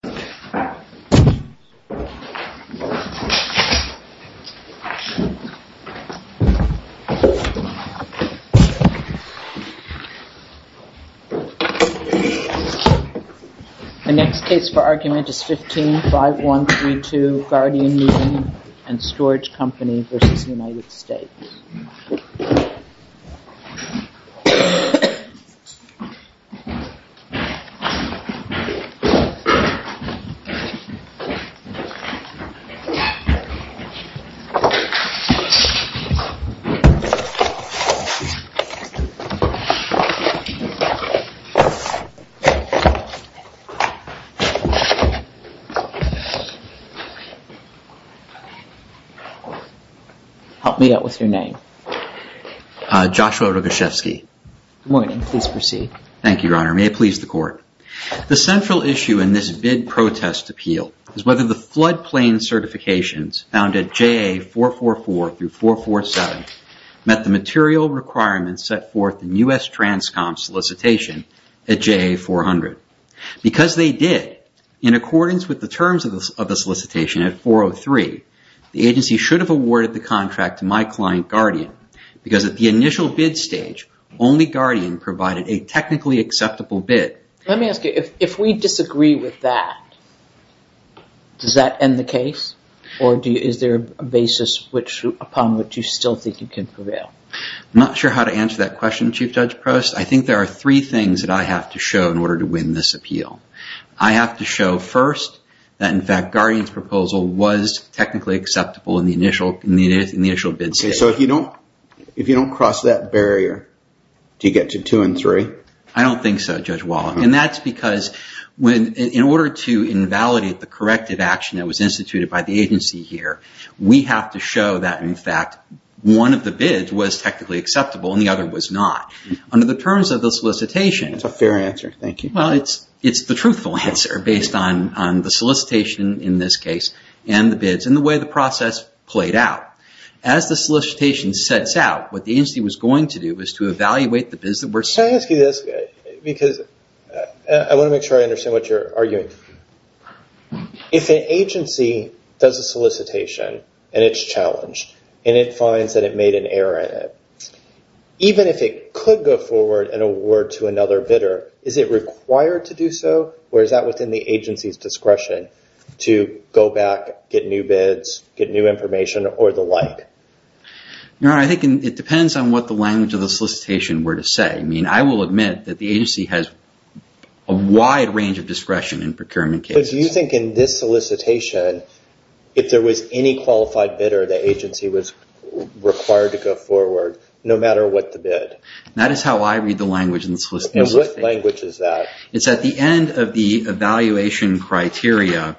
The next case for argument is 15-5132 Guardian Moving and Storage Co v. United States. Help me out with your name. Joshua Rogoshevsky. Good morning. Please proceed. Thank you, Your Honor. May it please the Court. The central issue in this bid protest appeal is whether the floodplain certifications found at JA444-447 met the material requirements set forth in U.S. Transcom's solicitation at JA400. Because they did, in accordance with the terms of the solicitation at 403, the agency should have awarded the contract to my client, Guardian, because at the initial bid stage, only Guardian provided a technically acceptable bid. Let me ask you, if we disagree with that, does that end the case? Or is there a basis upon which you still think you can prevail? I'm not sure how to answer that question, Chief Judge Prost. I think there are three things that I have to show in order to win this appeal. I have to show first that, in fact, Guardian's proposal was technically acceptable in the initial bid stage. So if you don't cross that barrier, do you get to two and three? I don't think so, Judge Wallach. And that's because in order to invalidate the corrective action that was instituted by the agency here, we have to show that, in fact, one of the bids was technically acceptable and the other was not. Under the terms of the solicitation, it's the truthful answer based on the solicitation in this case and the bids and the way the process played out. As the solicitation sets out, what the agency was going to do was to evaluate the bids that I want to make sure I understand what you're arguing. If an agency does a solicitation and it's challenged and it finds that it made an error in it, even if it could go forward and award to another bidder, is it required to do so or is that within the agency's discretion to go back, get new bids, get new information or the like? No, I think it depends on what the language of the solicitation were to say. I will admit that the agency has a wide range of discretion in procurement cases. But do you think in this solicitation, if there was any qualified bidder, the agency was required to go forward no matter what the bid? That is how I read the language in the solicitation. And what language is that? It's at the end of the evaluation criteria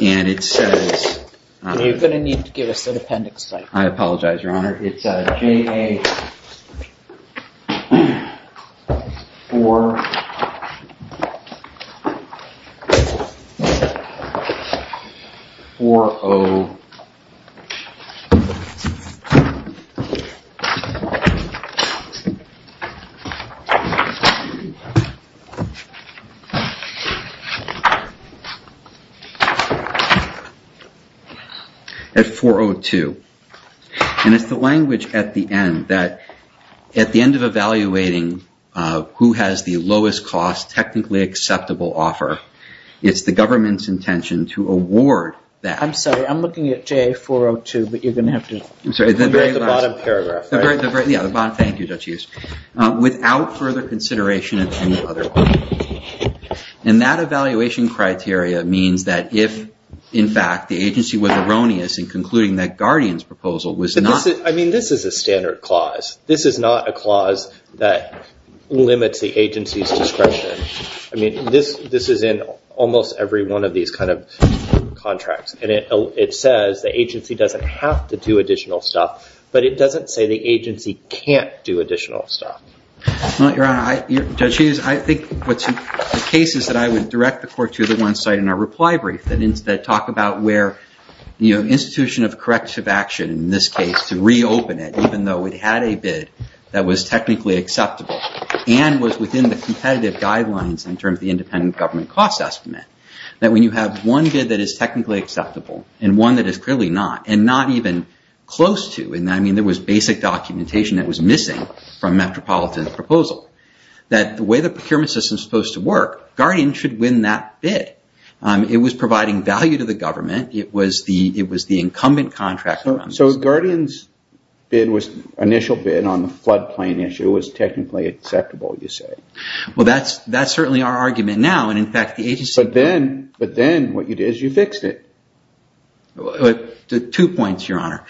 and it says... You're going to need to give us an appendix. I apologize, Your Honor. It's JA402. It's the language at the end that, at the end of evaluating who has the lowest cost technically acceptable offer, it's the government's intention to award that... I'm sorry, I'm looking at JA402, but you're going to have to read the bottom paragraph. Yeah, the bottom, thank you, Judge Hughes. Without further consideration of any other... And that evaluation criteria means that if, in fact, the agency was erroneous in concluding that Guardian's proposal was not... I mean, this is a standard clause. This is not a clause that limits the agency's discretion. This is in almost every one of these kind of contracts and it says the agency doesn't have to do additional stuff, but it doesn't say the agency can't do additional stuff. Well, Your Honor, Judge Hughes, I think the case is that I would direct the court to the one side in our reply brief that talk about where the institution of corrective action, in this case, to reopen it, even though it had a bid that was technically acceptable and was within the competitive guidelines in terms of the independent government cost estimate, that when you have one bid that is technically acceptable and one that is clearly not, and not even close to, and I mean, there was basic documentation that was missing from Metropolitan's proposal, that the way the procurement system is supposed to work, Guardian should win that bid. It was providing value to the government. It was the incumbent contractor. So if Guardian's bid was initial bid on the floodplain issue, it was technically acceptable, you say? Well, that's certainly our argument now, and in fact, the agency... But then what you did is you fixed it. Two points, Your Honor.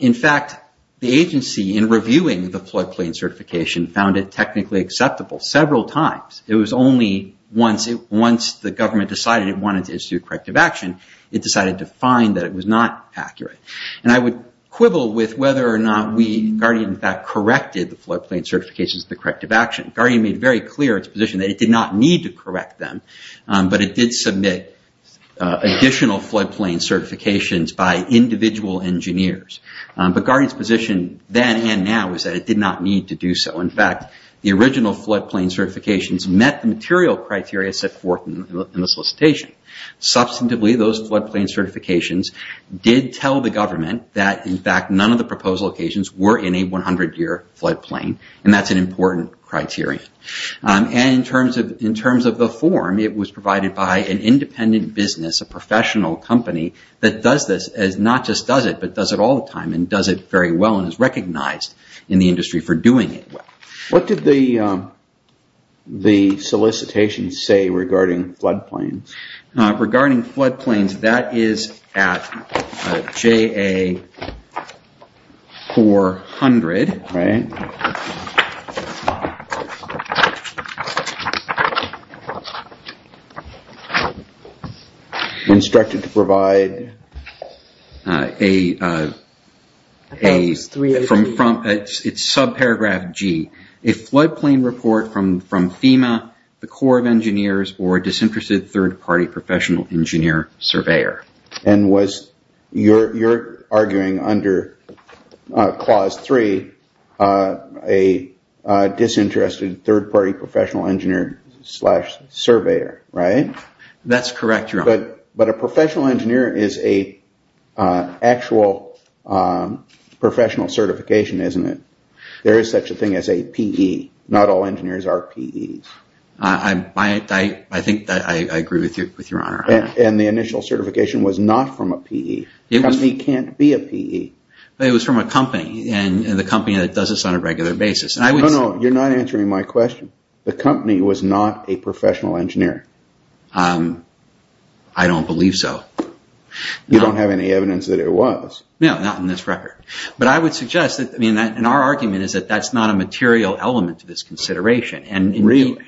In fact, the agency, in reviewing the floodplain certification, found it technically acceptable several times. It was only once the government decided it wanted to issue corrective action, it decided to find that it was not accurate. And I would quibble with whether or not we, Guardian, in fact, corrected the floodplain certifications of the corrective action. Guardian made very clear its position that it did not need to correct them, but it did submit additional floodplain certifications by individual engineers. But Guardian's position then and now is that it did not need to do so. In fact, the original floodplain certifications met the material criteria set forth in the solicitation. Substantively, those floodplain certifications did tell the government that, in fact, none of the proposal occasions were in a 100-year floodplain, and that's an important criteria. In terms of the form, it was provided by an independent business, a professional company that does this, not just does it, but does it all the time and does it very well and is recognized in the industry for doing it well. What did the solicitation say regarding floodplains? Regarding floodplains, that is at JA-400, instructed to provide, it's subparagraph G. A floodplain report from FEMA, the Corps of Engineers, or a disinterested third-party professional engineer surveyor. And you're arguing under Clause 3, a disinterested third-party professional engineer slash surveyor, right? That's correct, Your Honor. But a professional engineer is an actual professional certification, isn't it? There is such a thing as a PE. Not all engineers are PEs. I think that I agree with you, Your Honor. And the initial certification was not from a PE. A company can't be a PE. It was from a company, and the company that does this on a regular basis. No, no, you're not answering my question. The company was not a professional engineer. I don't believe so. You don't have any evidence that it was. No, not in this record. But I would suggest that, and our argument is that that's not a material element to this consideration. Really?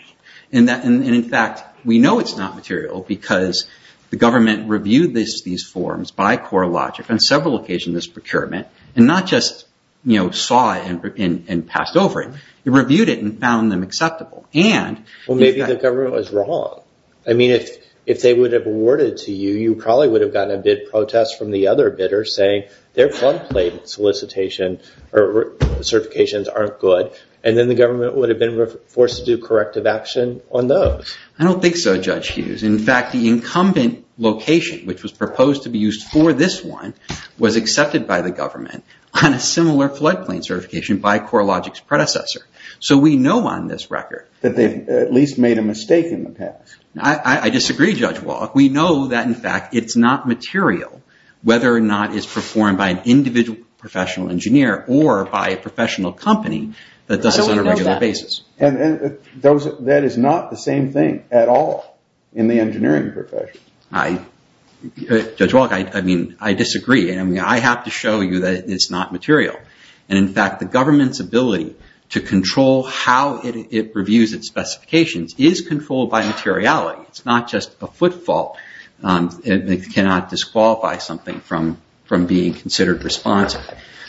And in fact, we know it's not material because the government reviewed these forms by Corps of Logic on several occasions of this procurement, and not just saw it and passed over it. It reviewed it and found them acceptable. Well, maybe the government was wrong. I mean, if they would have awarded it to you, you probably would have gotten a bid protest from the other bidder saying their floodplain solicitation or certifications aren't good, and then the government would have been forced to do corrective action on those. I don't think so, Judge Hughes. In fact, the incumbent location, which was proposed to be used for this one, was accepted by the government on a similar floodplain certification by Corps of Logic's predecessor. So we know on this record that they at least made a mistake in the past. I disagree, Judge Walk. We know that, in fact, it's not material, whether or not it's performed by an individual professional engineer or by a professional company that does this on a regular basis. That is not the same thing at all in the engineering profession. Judge Walk, I mean, I disagree. I have to show you that it's not material, and in fact, the government's ability to control how it reviews its specifications is controlled by materiality. It's not just a footfall. It cannot disqualify something from being considered responsive.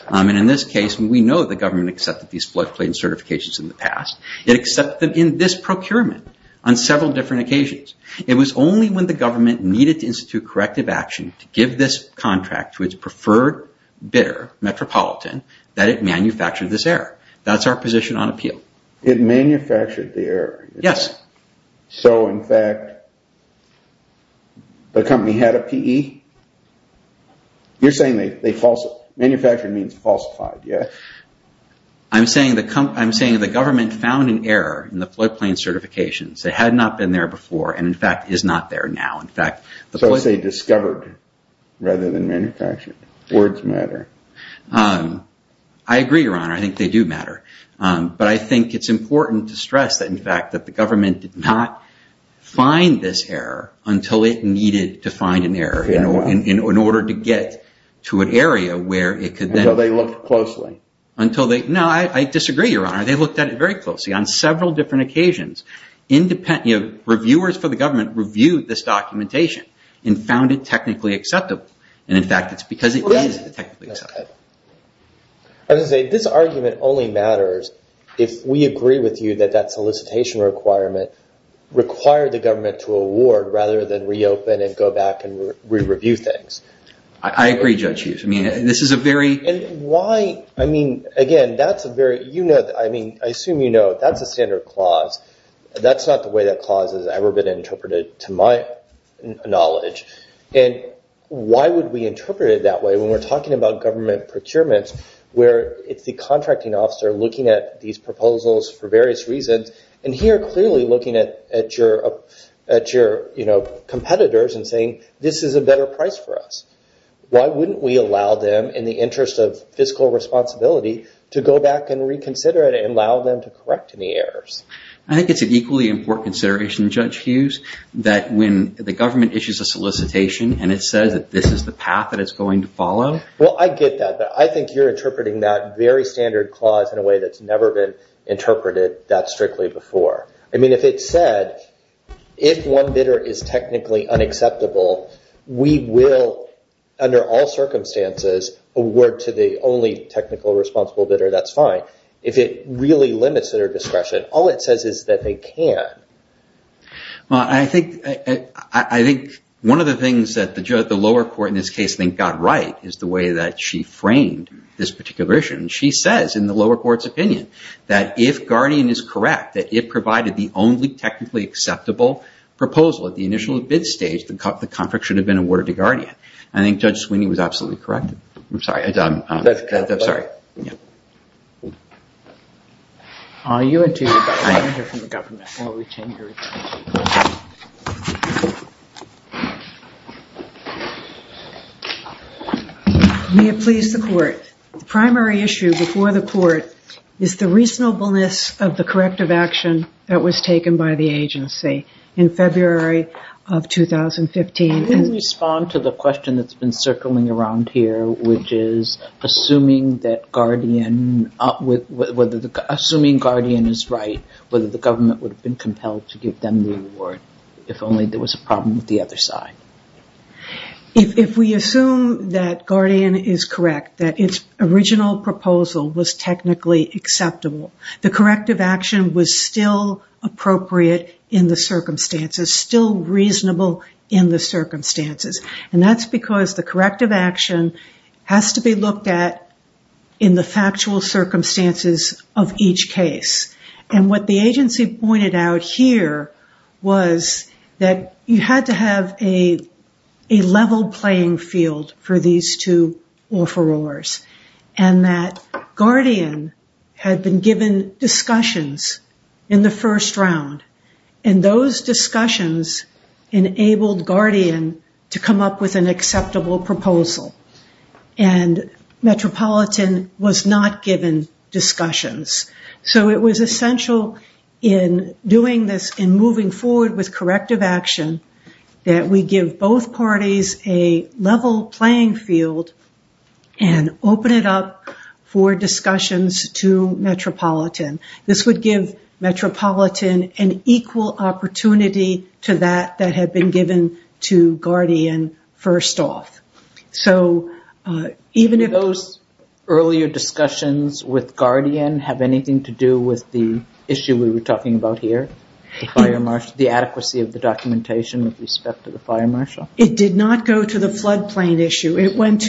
And in this case, we know the government accepted these floodplain certifications in the past. It accepted them in this procurement on several different occasions. It was only when the government needed to institute corrective action to give this contract to its preferred bidder, Metropolitan, that it manufactured this error. That's our position on appeal. It manufactured the error. Yes. So, in fact, the company had a PE? You're saying they falsified. Manufactured means falsified, yes? I'm saying the government found an error in the floodplain certifications. They had not been there before and, in fact, is not there now. In fact, the floodplain- So it's a discovered rather than manufactured. Words matter. I agree, Your Honor. I think they do matter. But I think it's important to stress that, in fact, that the government did not find this error until it needed to find an error in order to get to an area where it could then- Until they looked closely. Until they... No, I disagree, Your Honor. They looked at it very closely on several different occasions. Reviewers for the government reviewed this documentation and found it technically acceptable. And, in fact, it's because it is technically acceptable. I was going to say, this argument only matters if we agree with you that that solicitation requirement required the government to award rather than reopen and go back and re-review things. I agree, Judge Hughes. I mean, this is a very- And why... I mean, again, that's a very... You know that... I mean, I assume you know that's a standard clause. That's not the way that clause has ever been interpreted, to my knowledge. And why would we interpret it that way when we're talking about government procurements where it's the contracting officer looking at these proposals for various reasons and here clearly looking at your competitors and saying, this is a better price for us? Why wouldn't we allow them, in the interest of fiscal responsibility, to go back and reconsider it and allow them to correct any errors? I think it's an equally important consideration, Judge Hughes, that when the government issues a solicitation and it says that this is the path that it's going to follow- Well, I get that, but I think you're interpreting that very standard clause in a way that's never been interpreted that strictly before. I mean, if it said, if one bidder is technically unacceptable, we will, under all circumstances, award to the only technical responsible bidder, that's fine. If it really limits their discretion, all it says is that they can. Well, I think one of the things that the lower court in this case got right is the way that she framed this particular issue. She says, in the lower court's opinion, that if Guardian is correct, that if provided the only technically acceptable proposal at the initial bid stage, the contract should have been awarded to Guardian. I think Judge Sweeney was absolutely correct. I'm sorry, I'm done. I'm sorry. Yeah. Are you interested, I'm here from the government. May it please the court. The primary issue before the court is the reasonableness of the corrective action that was taken by the agency in February of 2015. Can you respond to the question that's been circling around here, which is assuming Guardian is right, whether the government would have been compelled to give them the award if only there was a problem with the other side? If we assume that Guardian is correct, that its original proposal was technically acceptable, the corrective action was still appropriate in the circumstances, still reasonable in the circumstances. That's because the corrective action has to be looked at in the factual circumstances of each case. What the agency pointed out here was that you had to have a level playing field for these two offerors, and that Guardian had been given discussions in the first round. Those discussions enabled Guardian to come up with an acceptable proposal, and Metropolitan was not given discussions. It was essential in doing this and moving forward with corrective action that we give both parties a level playing field and open it up for discussions to Metropolitan. This would give Metropolitan an equal opportunity to that that had been given to Guardian first off. Even if those earlier discussions with Guardian have anything to do with the issue we were talking about here, the adequacy of the documentation with respect to the fire marshal? It did not go to the floodplain issue. It went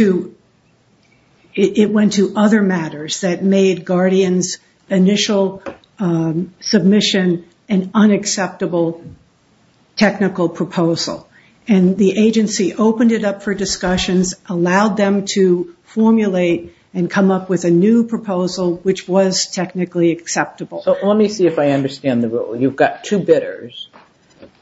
to other matters that made Guardian's initial submission an unacceptable technical proposal. The agency opened it up for discussions, allowed them to formulate and come up with a new proposal which was technically acceptable. Let me see if I understand the rule. You've got two bidders,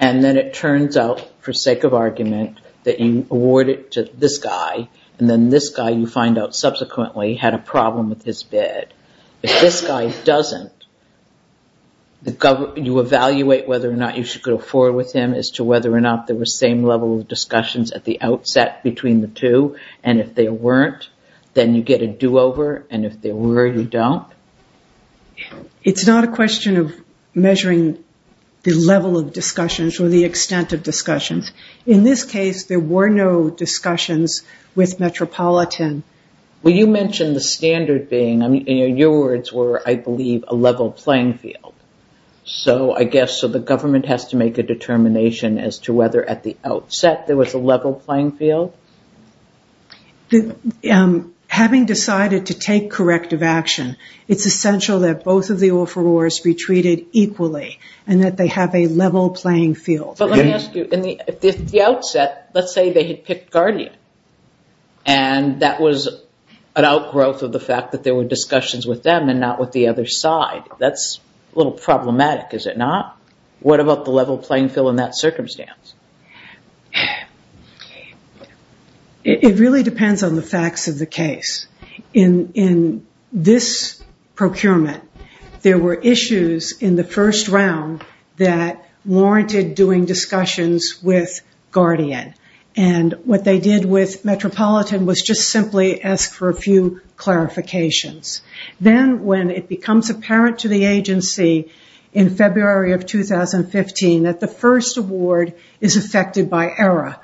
and then it turns out for sake of argument that you award it to this guy, and then this guy you find out subsequently had a problem with his bid. If this guy doesn't, you evaluate whether or not you should go forward with him as to whether or not there were same level of discussions at the outset between the two, and if there weren't, then you get a do-over, and if there were, you don't? It's not a question of measuring the level of discussions or the extent of discussions. In this case, there were no discussions with Metropolitan. Well, you mentioned the standard being, I mean, your words were, I believe, a level playing field. So I guess, so the government has to make a determination as to whether at the outset there was a level playing field? Having decided to take corrective action, it's essential that both of the offerors be treated equally and that they have a level playing field. But let me ask you, at the outset, let's say they had picked Guardian, and that was an outgrowth of the fact that there were discussions with them and not with the other side. That's a little problematic, is it not? What about the level playing field in that circumstance? It really depends on the facts of the case. In this procurement, there were issues in the first round that warranted doing discussions with Guardian. And what they did with Metropolitan was just simply ask for a few clarifications. Then when it becomes apparent to the agency in February of 2015 that the first award is affected by error,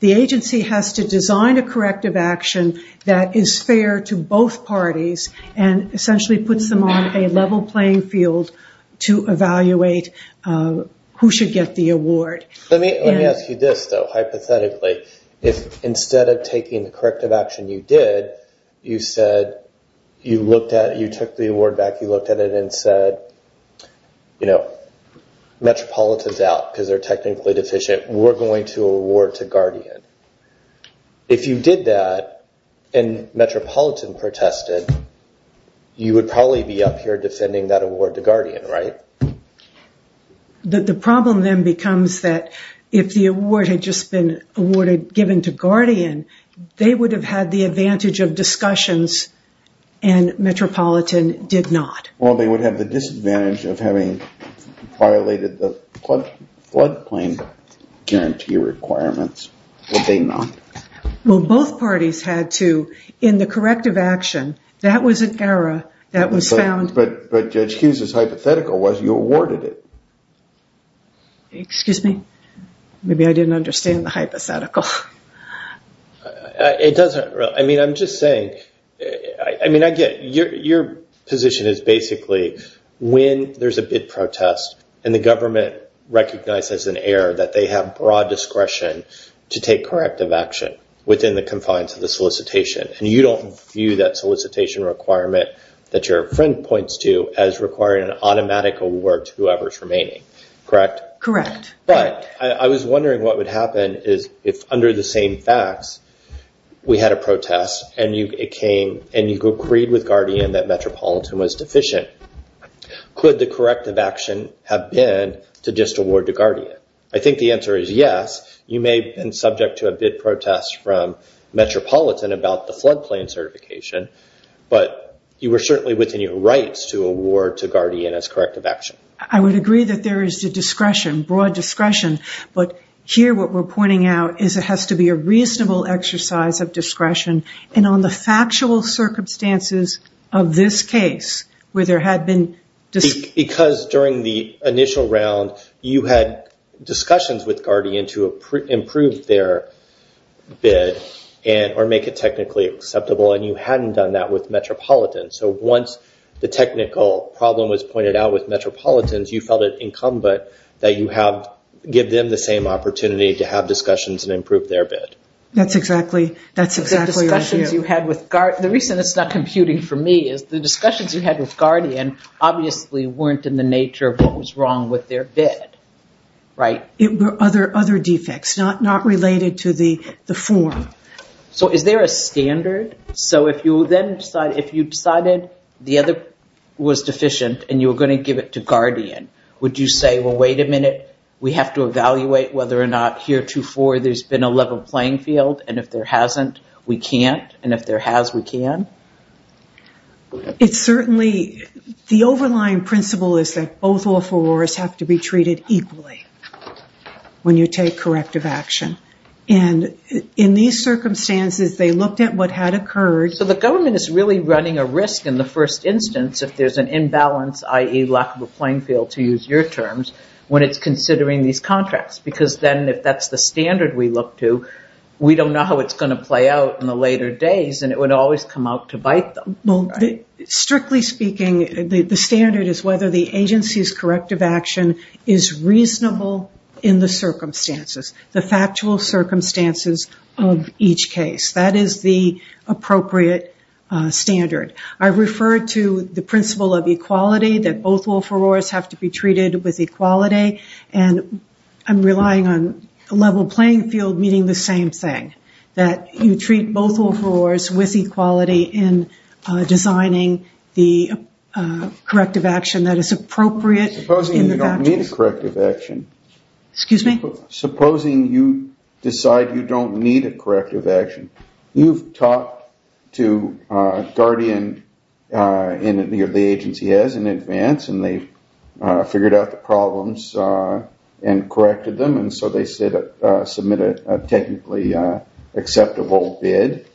the agency has to design a corrective action that is fair to both parties and essentially puts them on a level playing field to evaluate who should get the award. Let me ask you this, though, hypothetically. If instead of taking the corrective action you did, you said, you took the award back, you looked at it and said, Metropolitan's out because they're technically deficient. We're going to award to Guardian. If you did that and Metropolitan protested, you would probably be up here defending that award to Guardian, right? The problem then becomes that if the award had just been awarded, given to Guardian, they would have had the advantage of discussions and Metropolitan did not. Well, they would have the disadvantage of having violated the floodplain guarantee requirements, would they not? Well, both parties had to, in the corrective action, that was an error that was found. But Judge Hughes' hypothetical was you awarded it. Excuse me? Maybe I didn't understand the hypothetical. It doesn't really. I mean, I'm just saying, I mean, I get your position is basically when there's a bid protest and the government recognizes an error that they have broad discretion to take corrective action within the confines of the solicitation and you don't view that solicitation requirement that your friend points to as requiring an automatic award to whoever's remaining. Correct? Correct. But I was wondering what would happen is if under the same facts, we had a protest and you agreed with Guardian that Metropolitan was deficient. Could the corrective action have been to just award to Guardian? I think the answer is yes. You may have been subject to a bid protest from Metropolitan about the floodplain certification, but you were certainly within your rights to award to Guardian as corrective action. I would agree that there is a discretion, broad discretion, but here what we're pointing out is it has to be a reasonable exercise of discretion and on the factual circumstances of this case where there had been... Because during the initial round, you had discussions with Guardian to improve their bid or make it technically acceptable and you hadn't done that with Metropolitan. So once the technical problem was pointed out with Metropolitan, you felt it incumbent that you give them the same opportunity to have discussions and improve their bid. That's exactly what I do. The reason it's not computing for me is the discussions you had with Guardian obviously weren't in the nature of what was wrong with their bid, right? It were other defects, not related to the form. So is there a standard? So if you decided the other was deficient and you were going to give it to Guardian, would you say, well, wait a minute, we have to evaluate whether or not heretofore there's been a level playing field and if there hasn't, we can't, and if there has, we can? It's certainly... The overlying principle is that both all fours have to be treated equally. When you take corrective action. And in these circumstances, they looked at what had occurred. So the government is really running a risk in the first instance, if there's an imbalance, i.e. lack of a playing field to use your terms, when it's considering these contracts, because then if that's the standard we look to, we don't know how it's going to play out in the later days and it would always come out to bite them. Well, strictly speaking, the standard is whether the agency's corrective action is reasonable in the circumstances, the factual circumstances of each case. That is the appropriate standard. I refer to the principle of equality that both all fours have to be treated with equality and I'm relying on level playing field meaning the same thing, that you treat both all fours with equality in designing the corrective action that is appropriate. Supposing you don't need a corrective action? Excuse me? Supposing you decide you don't need a corrective action. You've talked to Guardian and the agency has in advance and they figured out the problems and corrected them and so they said submit a technically acceptable bid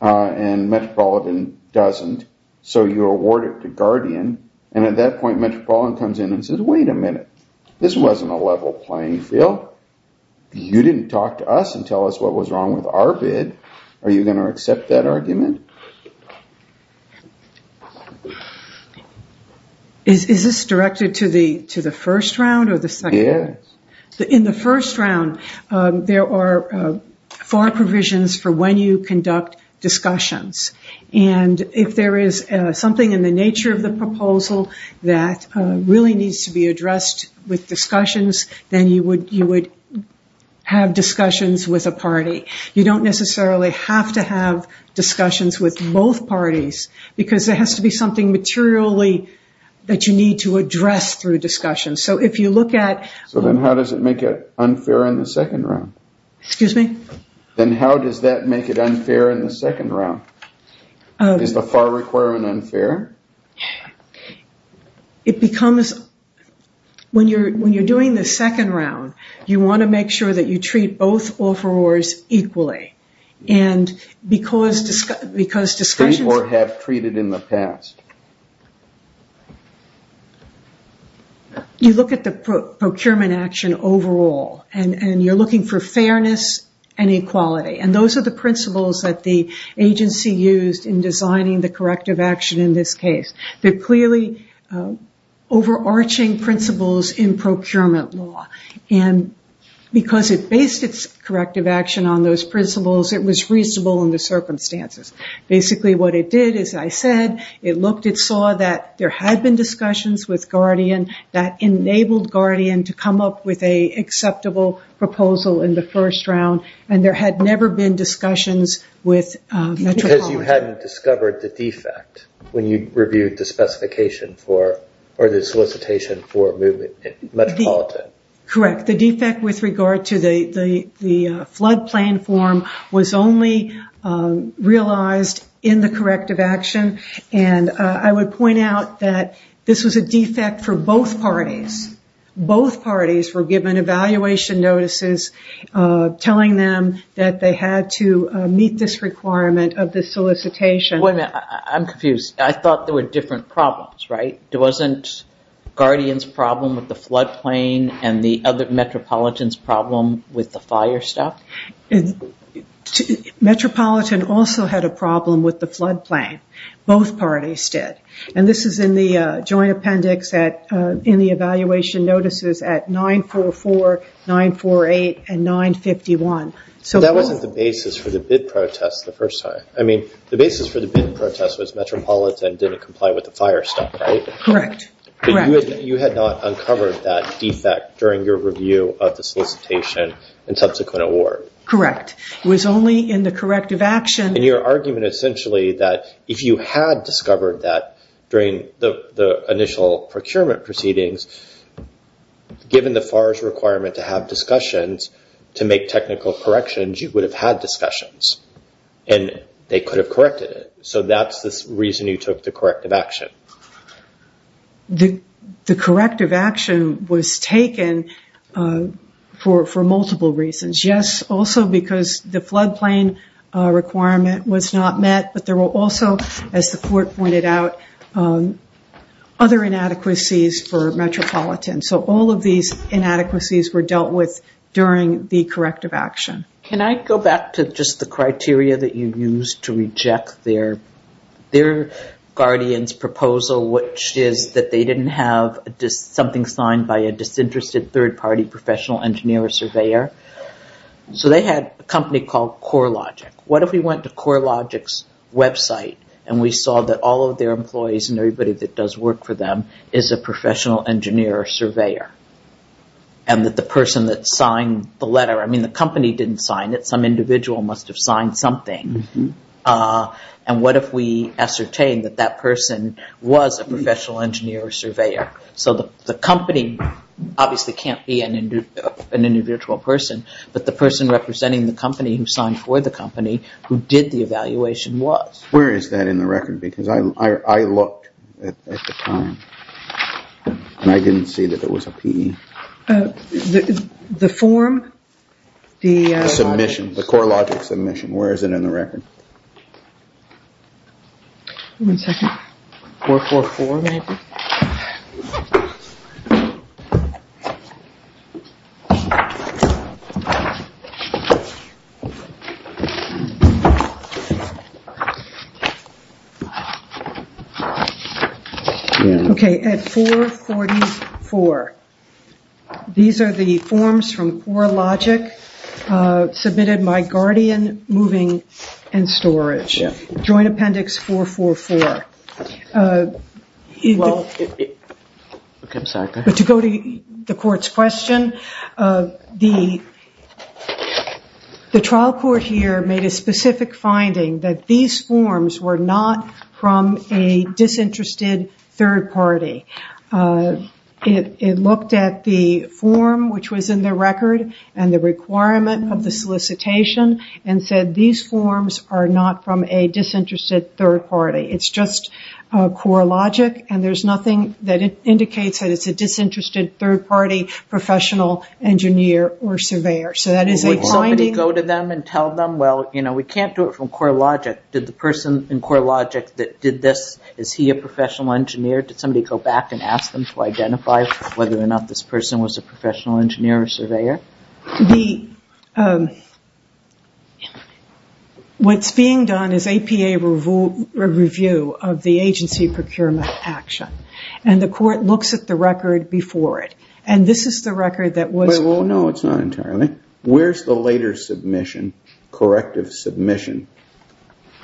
and Metropolitan doesn't. So you award it to Guardian and at that point, Metropolitan comes in and says, wait a minute, this wasn't a level playing field. You didn't talk to us and tell us what was wrong with our bid. Are you going to accept that argument? Is this directed to the first round or the second? Yes. In the first round, there are four provisions for when you conduct discussions and if there is something in the nature of the proposal that really needs to be addressed with discussions, then you would have discussions with a party. You don't necessarily have to have discussions with both parties because there has to be something materially that you need to address through discussion. So if you look at... So then how does it make it unfair in the second round? Excuse me? Then how does that make it unfair in the second round? Is the FAR requirement unfair? It becomes... When you're doing the second round, you want to make sure that you treat both offerors equally and because discussions... Or have treated in the past. You look at the procurement action overall and you're looking for fairness and equality and those are the principles that the agency used in designing the corrective action in this case. They're clearly overarching principles in procurement law and because it based its corrective action on those principles, it was reasonable in the circumstances. Basically what it did, as I said, it looked and saw that there had been discussions with Guardian that enabled Guardian to come up with an acceptable proposal in the first round and there had never been discussions with... Because you hadn't discovered the defect when you reviewed the specification for... Or the solicitation for moving metropolitan. Correct. The defect with regard to the flood plan form was only realized in the corrective action and I would point out that this was a defect for both parties. Both parties were given evaluation notices telling them that they had to meet this requirement of the solicitation. Wait a minute. I'm confused. I thought there were different problems, right? There wasn't Guardian's problem with the floodplain and the other metropolitan's problem with the fire stop? Metropolitan also had a problem with the floodplain. Both parties did and this is in the joint appendix in the evaluation notices at 944, 948, and 951. So that wasn't the basis for the bid protest the first time. I mean, the basis for the bid protest was metropolitan didn't comply with the fire stop, right? Correct, correct. You had not uncovered that defect during your review of the solicitation and subsequent award. Correct. It was only in the corrective action. And your argument essentially that if you had discovered that during the initial procurement proceedings, given the FARS requirement to have discussions to make technical corrections, you would have had discussions and they could have corrected it. So that's the reason you took the corrective action. The corrective action was taken for multiple reasons. Yes, also because the floodplain requirement was not met, but there were also, as the court pointed out, other inadequacies for metropolitan. So all of these inadequacies were dealt with during the corrective action. Can I go back to just the criteria that you used to reject their guardian's proposal, which is that they didn't have something signed by a disinterested third party professional engineer or surveyor. So they had a company called CoreLogic. What if we went to CoreLogic's website and we saw that all of their employees and everybody that does work for them is a professional engineer or surveyor and that the person that signed the letter, I mean, the company didn't sign it. Some individual must have signed something. And what if we ascertain that that person was a professional engineer or surveyor? So the company obviously can't be an individual person, but the person representing the company who signed for the company who did the evaluation was. Where is that in the record? Because I looked at the time. And I didn't see that there was a PE. The form, the submission, the CoreLogic submission, where is it in the record? One second. 444 maybe. Okay, at 444. These are the forms from CoreLogic submitted by Guardian Moving and Storage. Joint Appendix 444. But to go to the court's question, the trial court here made a specific finding that these forms were not from a disinterested third party. It looked at the form which was in the record and the requirement of the solicitation and said these forms are not from a disinterested third party. It's just CoreLogic and there's nothing that indicates that it's a disinterested third party professional engineer or surveyor. So that is a finding. Would somebody go to them and tell them, well, you know, we can't do it from CoreLogic. Did the person in CoreLogic that did this, is he a professional engineer? Did somebody go back and ask them to identify whether or not this person was a professional engineer or surveyor? The, what's being done is APA review of the agency procurement action and the court looks at the record before it. And this is the record that was- Wait, well, no, it's not entirely. Where's the later submission, corrective submission,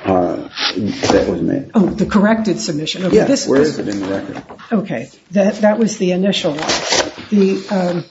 that was made? Oh, the corrected submission. Yeah, where is it in the record? Okay, that was the initial one. Okay.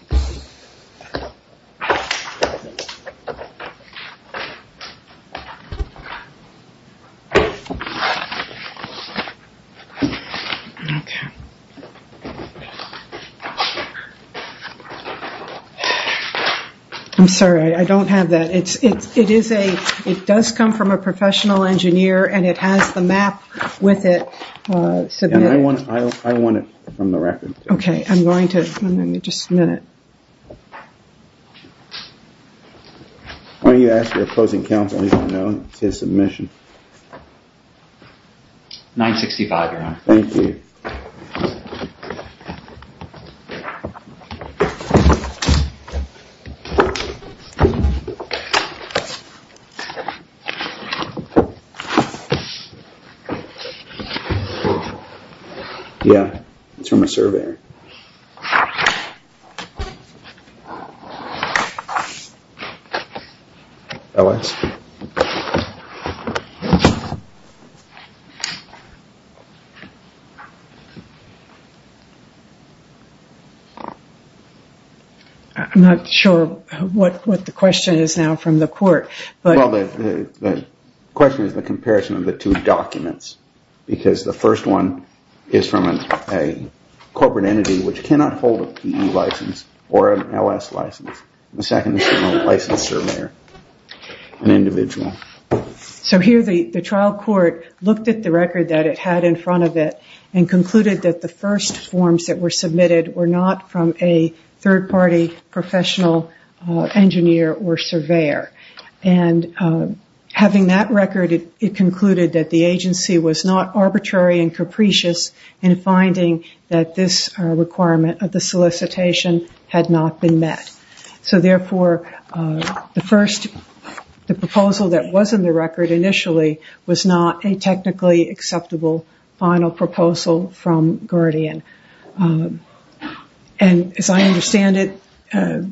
I'm sorry, I don't have that. It's, it is a, it does come from a professional engineer and it has the map with it. I want it from the record. Okay, I'm going to, let me just a minute. Why don't you ask your opposing counsel if you don't know, it's his submission. 965, your honor. Thank you. Yeah, it's from a surveyor. LS. I'm not sure what, what the question is now from the court. Well, the question is the comparison of the two documents. Because the first one is from a corporate entity which cannot hold a PE license or an LS license. The second is from a licensed surveyor, an individual. So here the trial court looked at the record that it had in front of it and concluded that the first forms that were submitted were not from a third party professional engineer or surveyor. And having that record, it concluded that the agency was not arbitrary and capricious in finding that this requirement of the solicitation had not been met. So therefore, the first, the proposal that was in the record initially was not a technically acceptable final proposal from Guardian. And as I understand it,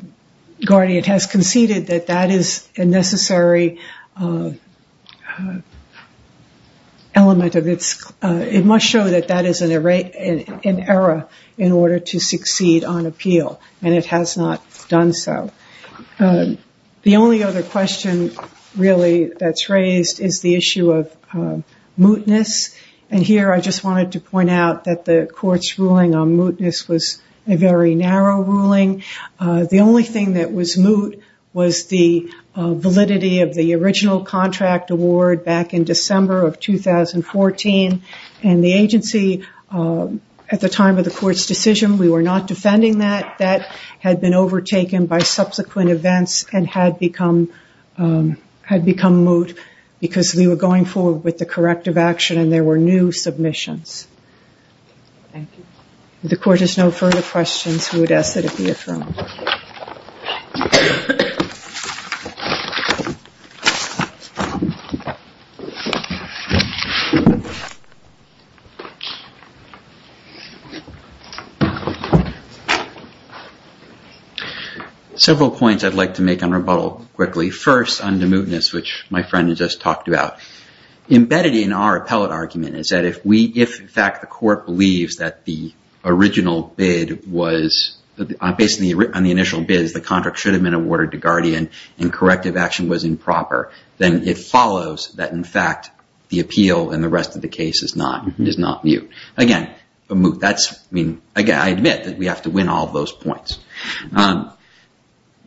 Guardian has conceded that that is a necessary element of its, it must show that that is an error in order to succeed on appeal. And it has not done so. The only other question really that's raised is the issue of mootness. And here I just wanted to point out that the court's ruling on mootness was a very narrow ruling. The only thing that was moot was the validity of the original contract award back in December of 2014. And the agency, at the time of the court's decision, we were not defending that. Had been overtaken by subsequent events and had become, had become moot because we were going forward with the corrective action and there were new submissions. Thank you. The court has no further questions. We would ask that it be affirmed. Several points I'd like to make on rebuttal quickly. First, on the mootness, which my friend just talked about. Embedded in our appellate argument is that if we, if in fact the court believes that the original bid was, based on the initial bids, the contract should have been awarded to Guardian and corrective action was improper, then it follows that in fact the appeal and the rest of the case is not, is not moot. Again, the moot, that's, I mean, again, I admit that we have to win all those points.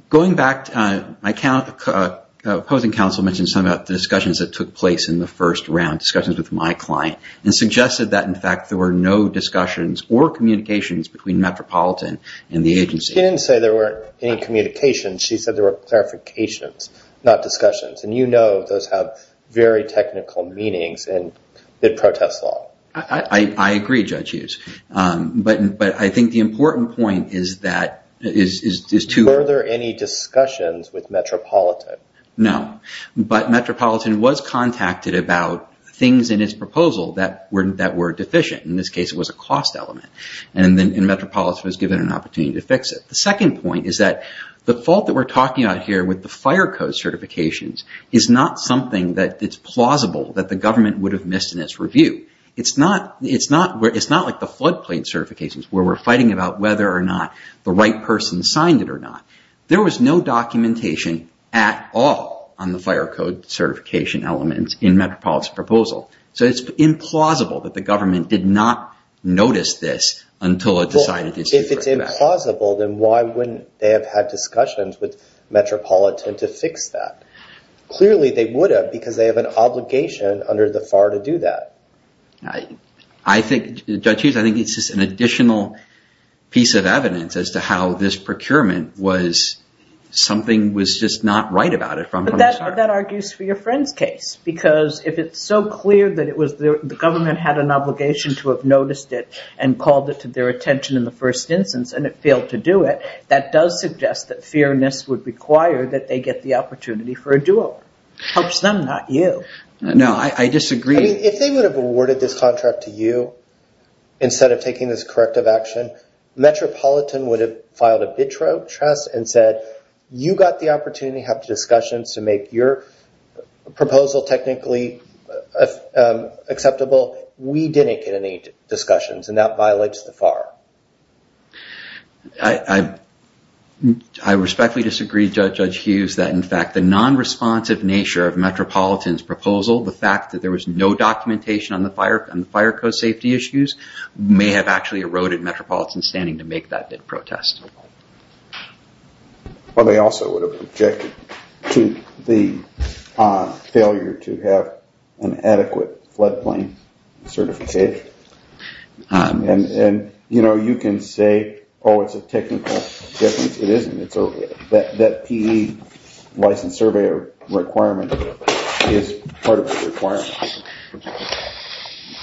Going back, my opposing counsel mentioned some of the discussions that took place in the first round, discussions with my client, and suggested that in fact there were no discussions or communications between Metropolitan and the agency. She didn't say there weren't any communications. She said there were clarifications, not discussions, and you know those have very technical meanings in bid protest law. I agree, Judge Hughes, but I think the important point is that, is to... Were there any discussions with Metropolitan? No, but Metropolitan was contacted about things in its proposal that were deficient. In this case, it was a cost element and then Metropolitan was given an opportunity to fix it. The second point is that the fault that we're talking about here with the fire code certifications is not something that it's plausible that the government would have missed in its review. It's not, it's not, it's not like the flood plate certifications where we're fighting about whether or not the right person signed it or not. There was no documentation at all on the fire code certification elements in Metropolitan's proposal. So it's implausible that the government did not notice this until it decided to... If it's implausible, then why wouldn't they have had discussions with Metropolitan to fix that? Clearly they would have because they have an obligation under the FAR to do that. I think, Judge Hughes, I think it's just an additional piece of evidence as to how this procurement was something was just not right about it from the start. That argues for your friend's case because if it's so clear that it was the government had an obligation to have noticed it and called it to their attention in the first instance and it failed to do it, that does suggest that fairness would require that they get the opportunity for a do-over. Helps them, not you. No, I disagree. If they would have awarded this contract to you instead of taking this corrective action, Metropolitan would have filed a BITRO trust and said, you got the opportunity to have discussions to make your proposal technically acceptable. We didn't get any discussions and that violates the FAR. I respectfully disagree, Judge Hughes, that in fact, the non-responsive nature of Metropolitan's proposal, the fact that there was no documentation on the fire code safety issues, may have actually eroded Metropolitan's standing to make that BITRO test. Well, they also would have objected to the failure to have an adequate floodplain certificate. You can say, oh, it's a technical difference. It isn't. That PE license survey requirement is part of the requirement.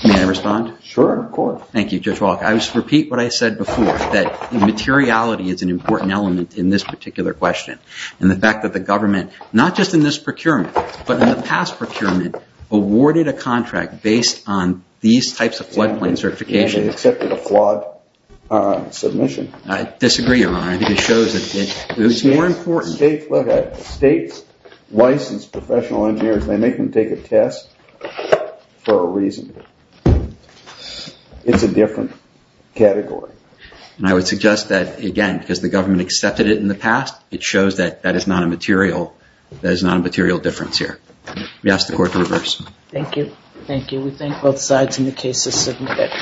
May I respond? Sure, of course. Thank you, Judge Walk. I just repeat what I said before, that materiality is an important element in this particular question. And the fact that the government, not just in this procurement, but in the past procurement, awarded a contract based on these types of floodplain certification. They accepted a flawed submission. I disagree, Your Honor. I think it shows that it's more important. States license professional engineers. They make them take a test for a reason. It's a different category. And I would suggest that, again, because the government accepted it in the past, it shows that that is not a material, that is not a material difference here. We ask the court to reverse. Thank you. Thank you. We thank both sides in the case of submitted.